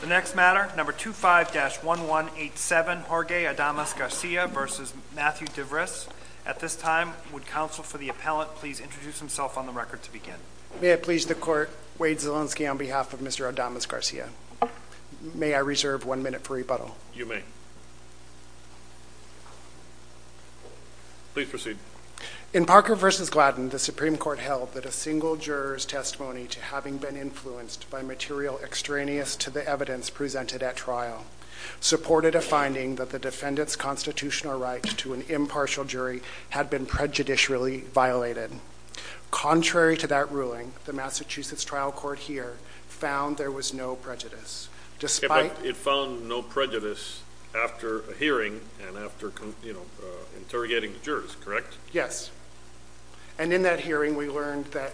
The next matter, number 25-1187, Jorge Adames-Garcia v. Matthew Divris. At this time, would counsel for the appellant please introduce himself on the record to begin. May I please the court, Wade Zielinski on behalf of Mr. Adames-Garcia. May I reserve one minute for rebuttal? You may. Please proceed. In Parker v. Gladden, the Supreme Court held that a single juror's testimony to having been influenced by material extraneous to the evidence presented at trial supported a finding that the defendant's constitutional right to an impartial jury had been prejudicially violated. Contrary to that ruling, the Massachusetts trial court here found there was no prejudice. It found no prejudice after a hearing and after interrogating the jurors, correct? Yes. And in that hearing, we learned that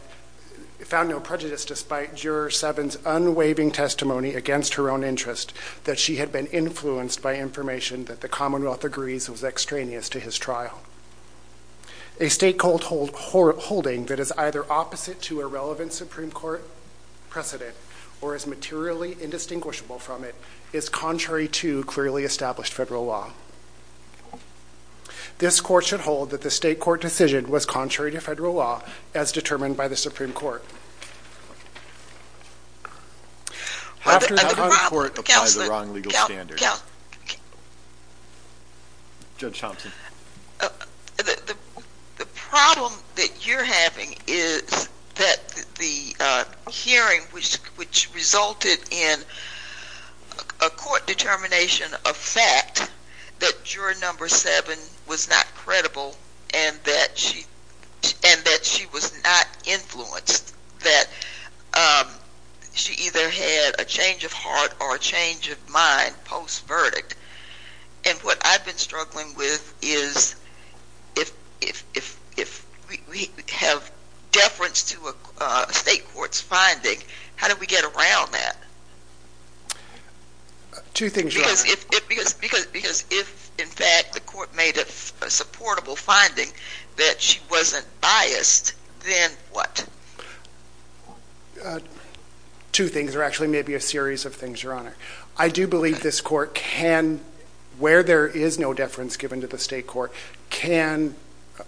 it found no prejudice despite Juror 7's unwaving testimony against her own interest that she had been influenced by information that the Commonwealth agrees was extraneous to his trial. A state court holding that is either opposite to a relevant Supreme Court precedent or is materially indistinguishable from it is contrary to clearly established federal law. This court should hold that the state court decision was contrary to federal law as determined by the Supreme Court. Judge Thompson? The problem that you're having is that the hearing which resulted in a court determination of fact that juror number seven was not supportable and that she was not influenced. That she either had a change of heart or a change of mind post verdict and what I've been struggling with is if we have deference to a state court's finding, how do we get around that? Two things, Your Honor. Because if in fact the court made a supportable finding that she wasn't biased, then what? Two things or actually maybe a series of things, Your Honor. I do believe this court can, where there is no deference given to the state court, can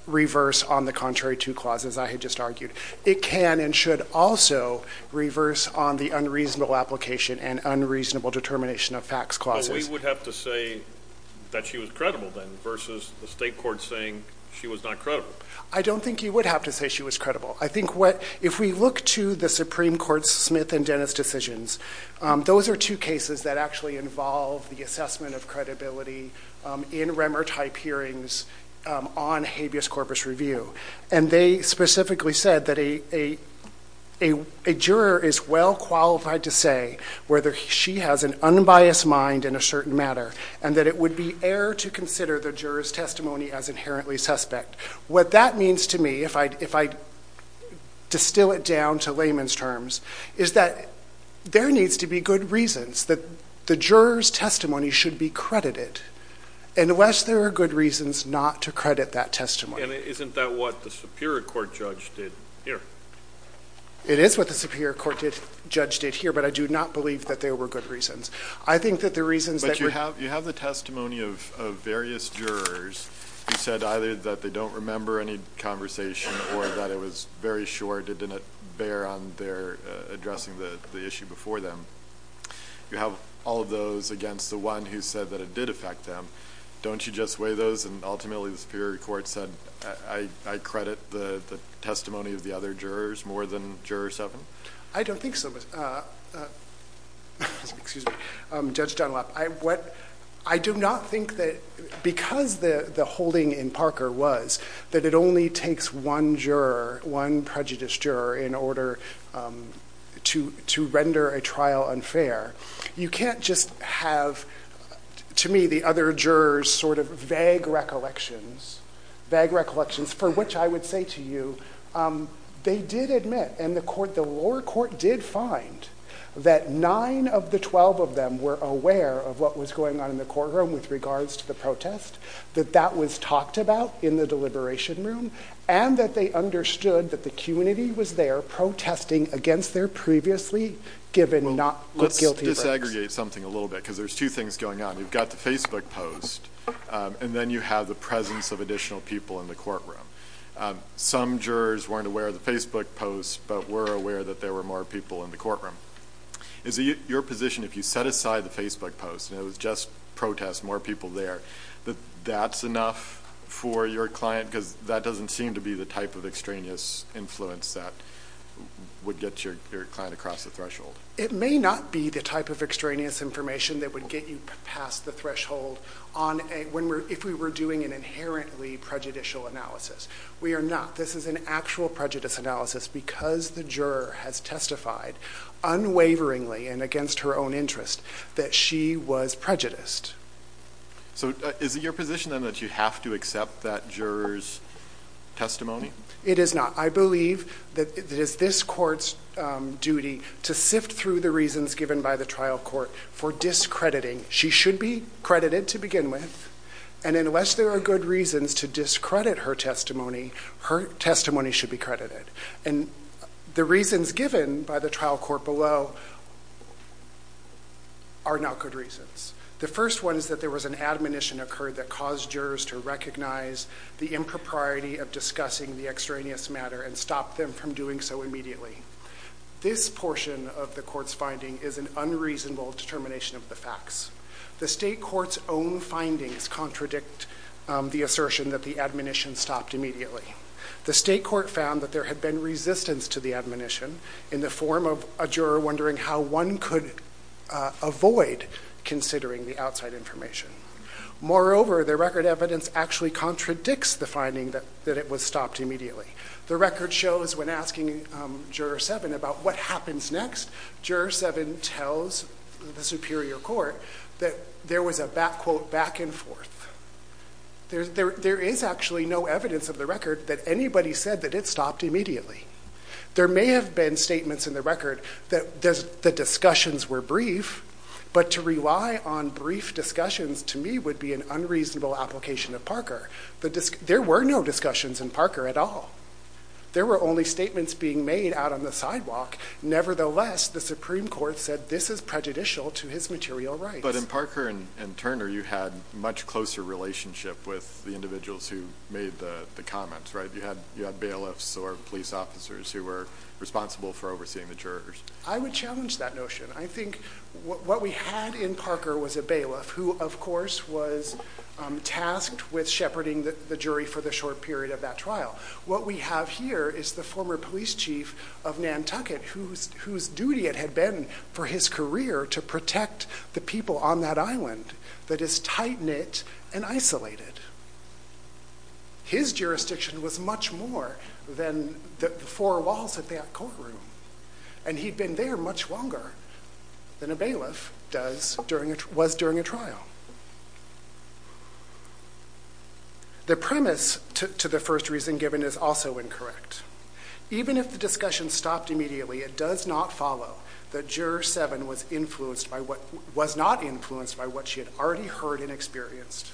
reverse on the contrary to clauses I had just argued. It can and should also reverse on the unreasonable application and unreasonable determination of facts clauses. We would have to say that she was credible then versus the state court saying she was not credible. I don't think you would have to say she was credible. I think what, if we look to the Supreme Court's Smith and Dennis decisions, those are two cases that actually involve the assessment of credibility in Remmer type hearings on habeas corpus review and they specifically said that a juror is well qualified to say whether she has an unbiased mind in a certain matter and that it would be error to consider the jurors testimony as inherently suspect. What that means to me, if I distill it down to layman's terms, is that there needs to be good reasons that the jurors testimony should be credited unless there are good reasons not to credit that testimony. And isn't that what the Superior Court judge did here? It is what the Superior Court judge did here, but I do not believe that there were good reasons. I think that the reasons... But you have you have the testimony of various jurors who said either that they don't remember any conversation or that it was very short, it didn't bear on their addressing the issue before them. You have all those against the one who said that it did affect them. Don't you just weigh those and ultimately the Superior Court said, I credit the testimony of the other jurors more than juror seven? I don't think so, Judge Dunlap. I do not think that because the the holding in Parker was that it only takes one juror, one prejudiced juror, in order to to render a trial unfair. You can't just have, to me, the other jurors sort of vague recollections, vague recollections, for which I would say to you they did admit, and the lower court did find, that nine of the twelve of them were aware of what was going on in the courtroom with regards to the protest, that that was talked about in the deliberation room, and that they understood that the community was there protesting against their previously given not guilty verds. Let's disaggregate something a little bit because there's two things going on. You've got the Facebook post and then you have the presence of additional people in the courtroom. Some jurors weren't aware of the Facebook post but were aware that there were more people in the courtroom. Is it your position if you set aside the Facebook post and it was just protests, more people there, that that's enough for your client because that doesn't seem to be the type of extraneous influence that would get your client across the threshold? It may not be the type of extraneous information that would get you past the threshold if we were doing an inherently prejudicial analysis. We are not. This is an actual prejudice analysis because the juror has testified unwaveringly and against her own interest that she was prejudiced. So is it your position then that you have to accept that juror's testimony? It is not. I believe that it is this court's duty to sift through the reasons given by the trial court for discrediting. She should be credited to begin with and unless there are good reasons to discredit her testimony, her testimony should be credited. And the reasons given by the trial court below are not good reasons. The first one is that there was an admonition occurred that caused jurors to recognize the impropriety of discussing the extraneous matter and stopped them from doing so immediately. This portion of the court's finding is an unreasonable determination of the facts. The state court's own findings contradict the assertion that the admonition stopped immediately. The state court found that there had been resistance to the admonition in the form of a juror wondering how one could avoid considering the outside information. Moreover, the record evidence actually contradicts the finding that it was stopped immediately. The record shows when asking Juror 7 about what happens next, Juror 7 tells the Superior Court that there was a back quote back and forth. There is actually no evidence of the record that anybody said that it stopped immediately. There may have been statements in the record that the discussions were brief, but to rely on brief discussions to me would be an unreasonable application of Parker. There were no discussions in Parker at all. There were only statements being made out on the sidewalk. Nevertheless, the Supreme Court said this is prejudicial to his material rights. But in Parker and Turner you had much closer relationship with the individuals who made the comments, right? You had bailiffs or police officers who were responsible for overseeing the jurors. I would challenge that notion. I think what we had in Parker was a bailiff who, of course, was tasked with shepherding the jury for the short period of that trial. What we have here is the former police chief of Nantucket whose duty it had been for his career to protect the people on that island that is tight-knit and isolated. His jurisdiction was much more than the four walls of that courtroom, and he'd been there much longer than a bailiff was during a trial. The premise to the first reason given is also incorrect. Even if the discussion stopped immediately, it does not follow that Juror 7 was not influenced by what she had already heard and experienced.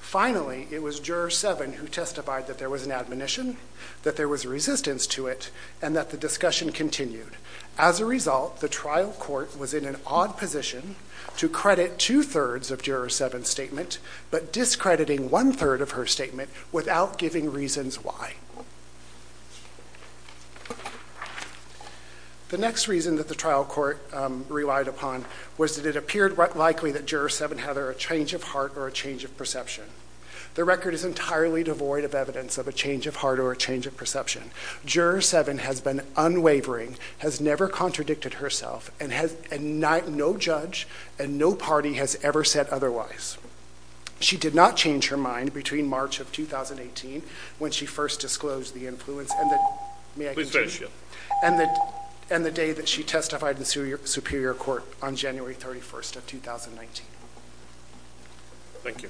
Finally, it was Juror 7 who testified that there was an that there was resistance to it and that the discussion continued. As a result, the trial court was in an odd position to credit two-thirds of Juror 7's statement but discrediting one-third of her statement without giving reasons why. The next reason that the trial court relied upon was that it appeared likely that Juror 7 had either a change of heart or a change of perception. The record is highly devoid of evidence of a change of heart or a change of perception. Juror 7 has been unwavering, has never contradicted herself, and no judge and no party has ever said otherwise. She did not change her mind between March of 2018 when she first disclosed the influence and the day that she testified in the Superior Court on January 31st of 2019. Thank you.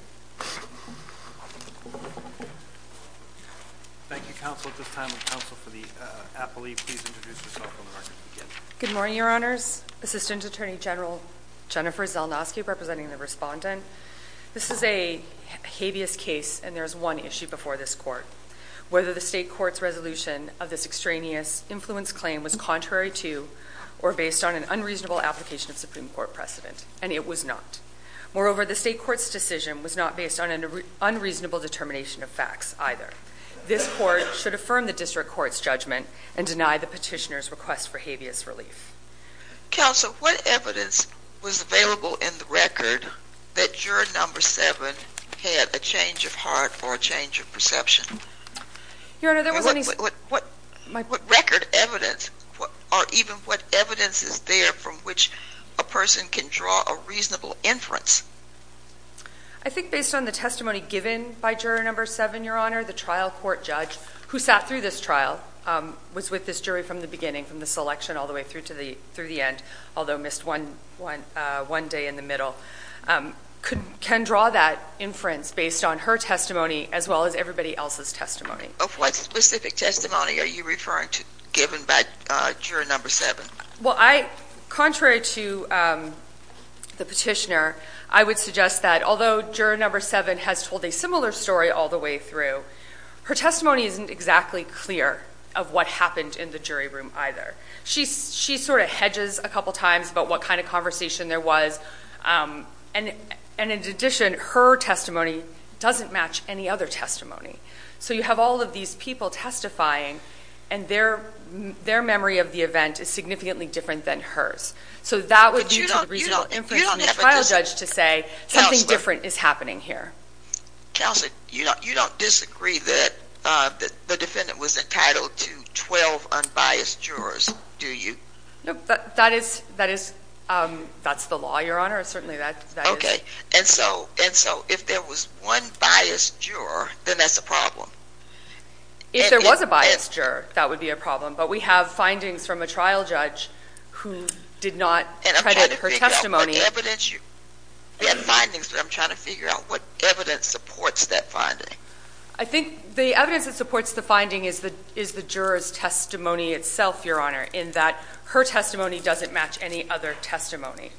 Thank you, counsel. At this time, will counsel for the appellee please introduce herself. Good morning, Your Honors. Assistant Attorney General Jennifer Zelnoski representing the respondent. This is a habeas case and there's one issue before this court. Whether the state court's resolution of this extraneous influence claim was contrary to or based on an unreasonable application of Supreme Court precedent, and it was not. Moreover, the state court's decision was not based on an unreasonable determination of facts either. This court should affirm the district court's judgment and deny the petitioner's request for habeas relief. Counsel, what evidence was available in the record that Juror 7 had a change of heart or a change of perception? Your Honor, there wasn't any. What record evidence or even what evidence is there from which a person can draw a reasonable inference? I think based on the testimony given by Juror number 7, Your Honor, the trial court judge who sat through this trial was with this jury from the beginning, from the selection all the way through to the through the end, although missed one day in the middle, can draw that inference based on her testimony as well as everybody else's testimony. Of what specific testimony are you referring to given by Juror number 7? Well, contrary to the petitioner, I would suggest that although Juror number 7 has told a similar story all the way through, her testimony isn't exactly clear of what happened in the jury room either. She sort of hedges a couple times about what kind of conversation there was, and in addition, her testimony doesn't match any other testimony. So you have all of these people testifying, and their memory of the event is significantly different than hers. So that would be a reasonable inference for the trial judge to say something different is happening here. Counselor, you don't disagree that the defendant was entitled to 12 unbiased jurors, do you? That's the law, Your Honor. Okay. And so if there was one biased juror, then that's a problem. If there was a biased juror, that would be a problem. But we have findings from a trial judge who did not credit her testimony. We have findings, but I'm trying to figure out what evidence supports that finding. I think the evidence that supports the finding is the juror's testimony itself, Your Honor, in that her testimony doesn't match any other testimony.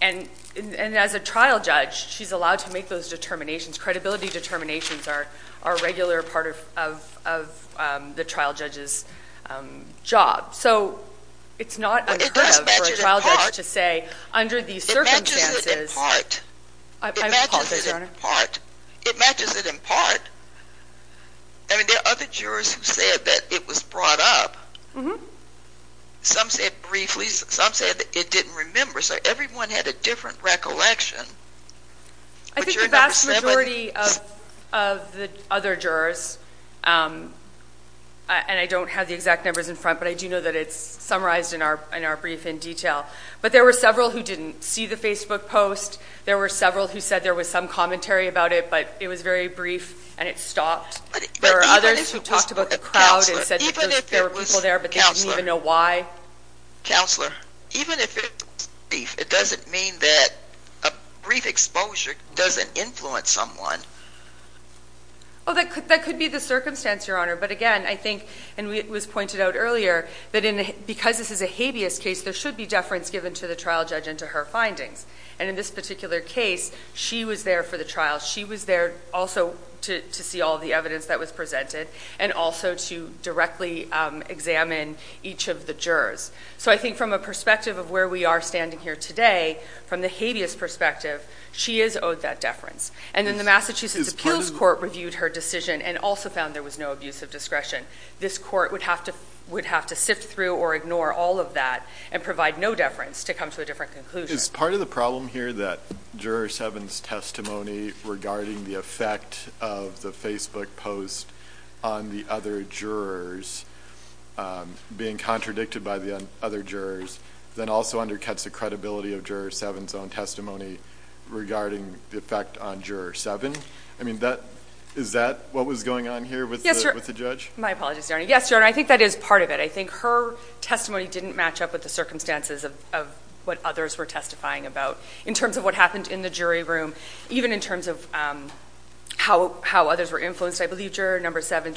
And as a trial judge, she's allowed to make those determinations. Credibility determinations are a regular part of the trial judge's job. So it's not unheard of for a trial judge to say under these circumstances... It matches it in part. I apologize, Your Honor. It matches it in part. I mean, there are other jurors who said that it was brought up. Some said briefly. Some said it didn't remember. So everyone had a different recollection. I think the vast majority of the other jurors, and I don't have the exact numbers in front, but I do know that it's summarized in our brief in detail, but there were several who didn't see the Facebook post. There were several who said there was some commentary about it, but it was very brief and it stopped. There are others who talked about the crowd and said that there were people there but they didn't even know why. Counselor, even if it was brief, it doesn't mean that a brief exposure doesn't influence someone. Well, that could be the circumstance, Your Honor. But again, I think, and it was pointed out earlier, that because this is a habeas case, there should be deference given to the trial judge and to her findings. And in this particular case, she was there for the trial. She was there also to see all the evidence that was presented and also to directly examine each of the jurors. So I think from a perspective of where we are standing here today, from the habeas perspective, she is owed that deference. And then the Massachusetts Appeals Court reviewed her decision and also found there was no abuse of discretion. This court would have to sift through or ignore all of that and provide no deference to come to a different conclusion. Is part of the problem here that Juror 7's testimony regarding the effect of the Facebook post on the other jurors being contradicted by the other jurors, then also undercuts the credibility of Juror 7's own testimony regarding the effect on Juror 7? I mean, is that what was going on here with the judge? Yes, Your Honor. I think that is part of it. I think her testimony didn't match up with the circumstances of what others were testifying about. In terms of what happened in the jury room, even in terms of how others were influenced, I believe Juror 7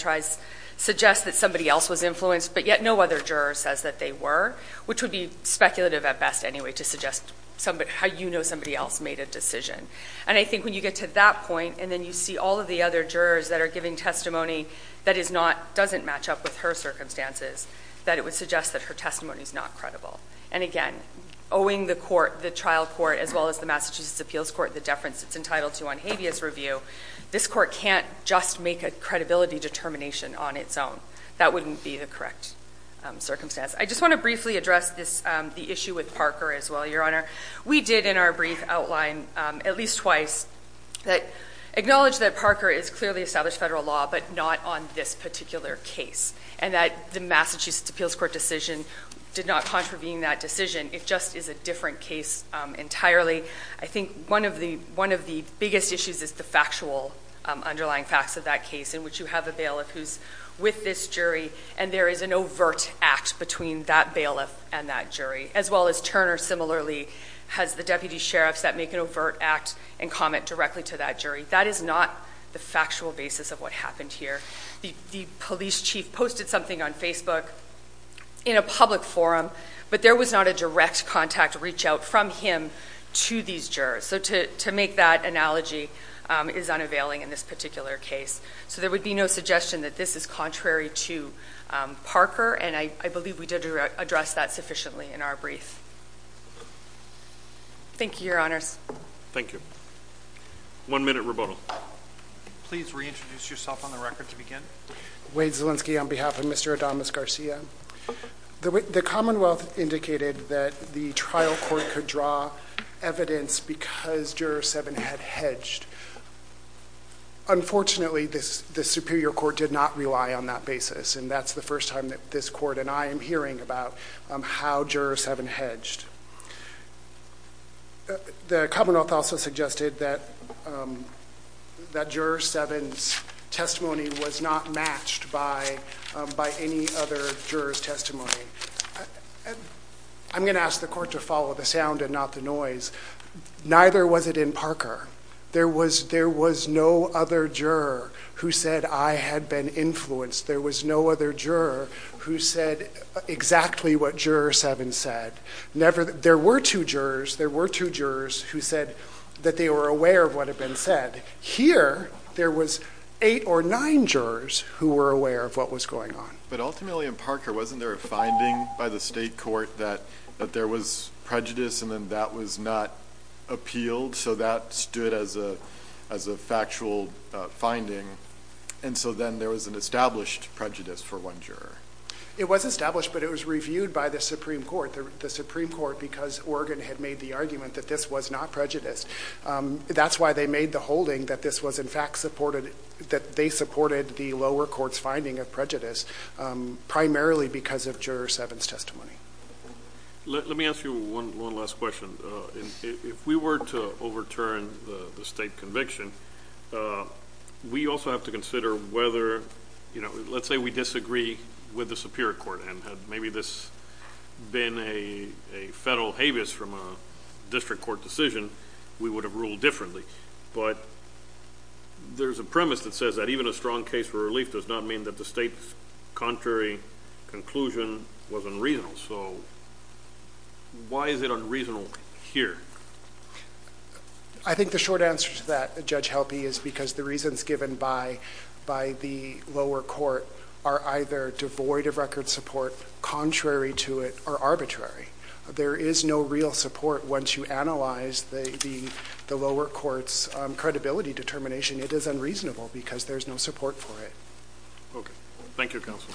suggests that somebody else was influenced, but yet no other juror says that they were, which would be speculative at best anyway to suggest how you know somebody else made a decision. And I think when you get to that point and then you see all of the other jurors that are giving testimony that doesn't match up with her circumstances, that it would suggest that her testimony is not credible. And again, owing the trial court as well as the Massachusetts Appeals Court the deference it's entitled to on habeas review, this court can't just make a credibility determination on its own. That wouldn't be the correct circumstance. I just want to briefly address the issue with Parker as well, Your Honor. We did in our brief outline at least twice acknowledge that Parker has clearly established federal law, but not on this particular case, and that the Massachusetts Appeals Court decision did not contravene that decision. It just is a different case entirely. I think one of the biggest issues is the factual underlying facts of that case, in which you have a bailiff who's with this jury, and there is an overt act between that bailiff and that jury, as well as Turner similarly has the deputy sheriffs that make an overt act and comment directly to that jury. That is not the factual basis of what happened here. The police chief posted something on Facebook in a public forum, but there was not a direct contact reach out from him to these jurors. So to make that analogy is unavailing in this particular case. So there would be no suggestion that this is contrary to Parker, and I believe we did address that sufficiently in our brief. Thank you, Your Honors. Thank you. One minute rebuttal. Please reintroduce yourself on the record to begin. Wade Zielinski on behalf of Mr. Adamus Garcia. The Commonwealth indicated that the trial court could draw evidence because Juror 7 had hedged. Unfortunately, the superior court did not rely on that basis, and that's the first time that this court and I am hearing about how Jurors 7 hedged. The Commonwealth also suggested that Juror 7's testimony was not matched by any other juror's testimony. I'm going to ask the court to follow the sound and not the noise. Neither was it in Parker. There was no other juror who said I had been influenced. There was no other juror who said exactly what Juror 7 said. There were two jurors who said that they were aware of what had been said. Here, there was eight or nine jurors who were aware of what was going on. But ultimately in Parker, wasn't there a finding by the state court that there was prejudice and then that was not appealed so that stood as a factual finding? And so then there was an established prejudice for one juror. It was established, but it was reviewed by the Supreme Court. The Supreme Court, because Oregon had made the argument that this was not prejudice, that's why they made the holding that this was in fact supported, that they supported the lower court's finding of prejudice primarily because of Juror 7's testimony. Let me ask you one last question. If we were to overturn the state conviction, we also have to consider whether, you know, let's say we disagree with the Superior Court and had maybe this been a federal habeas from a district court decision, we would have ruled differently. But there's a premise that says that even a strong case for relief does not mean that the state's contrary conclusion was unreasonable. So why is it unreasonable here? I think the short answer to that, Judge Helpe, is because the reasons given by the lower court are either devoid of record support, contrary to it, or arbitrary. There is no real support once you analyze the lower court's credibility determination. It is unreasonable because there's no support for it. Okay. Thank you, Counsel.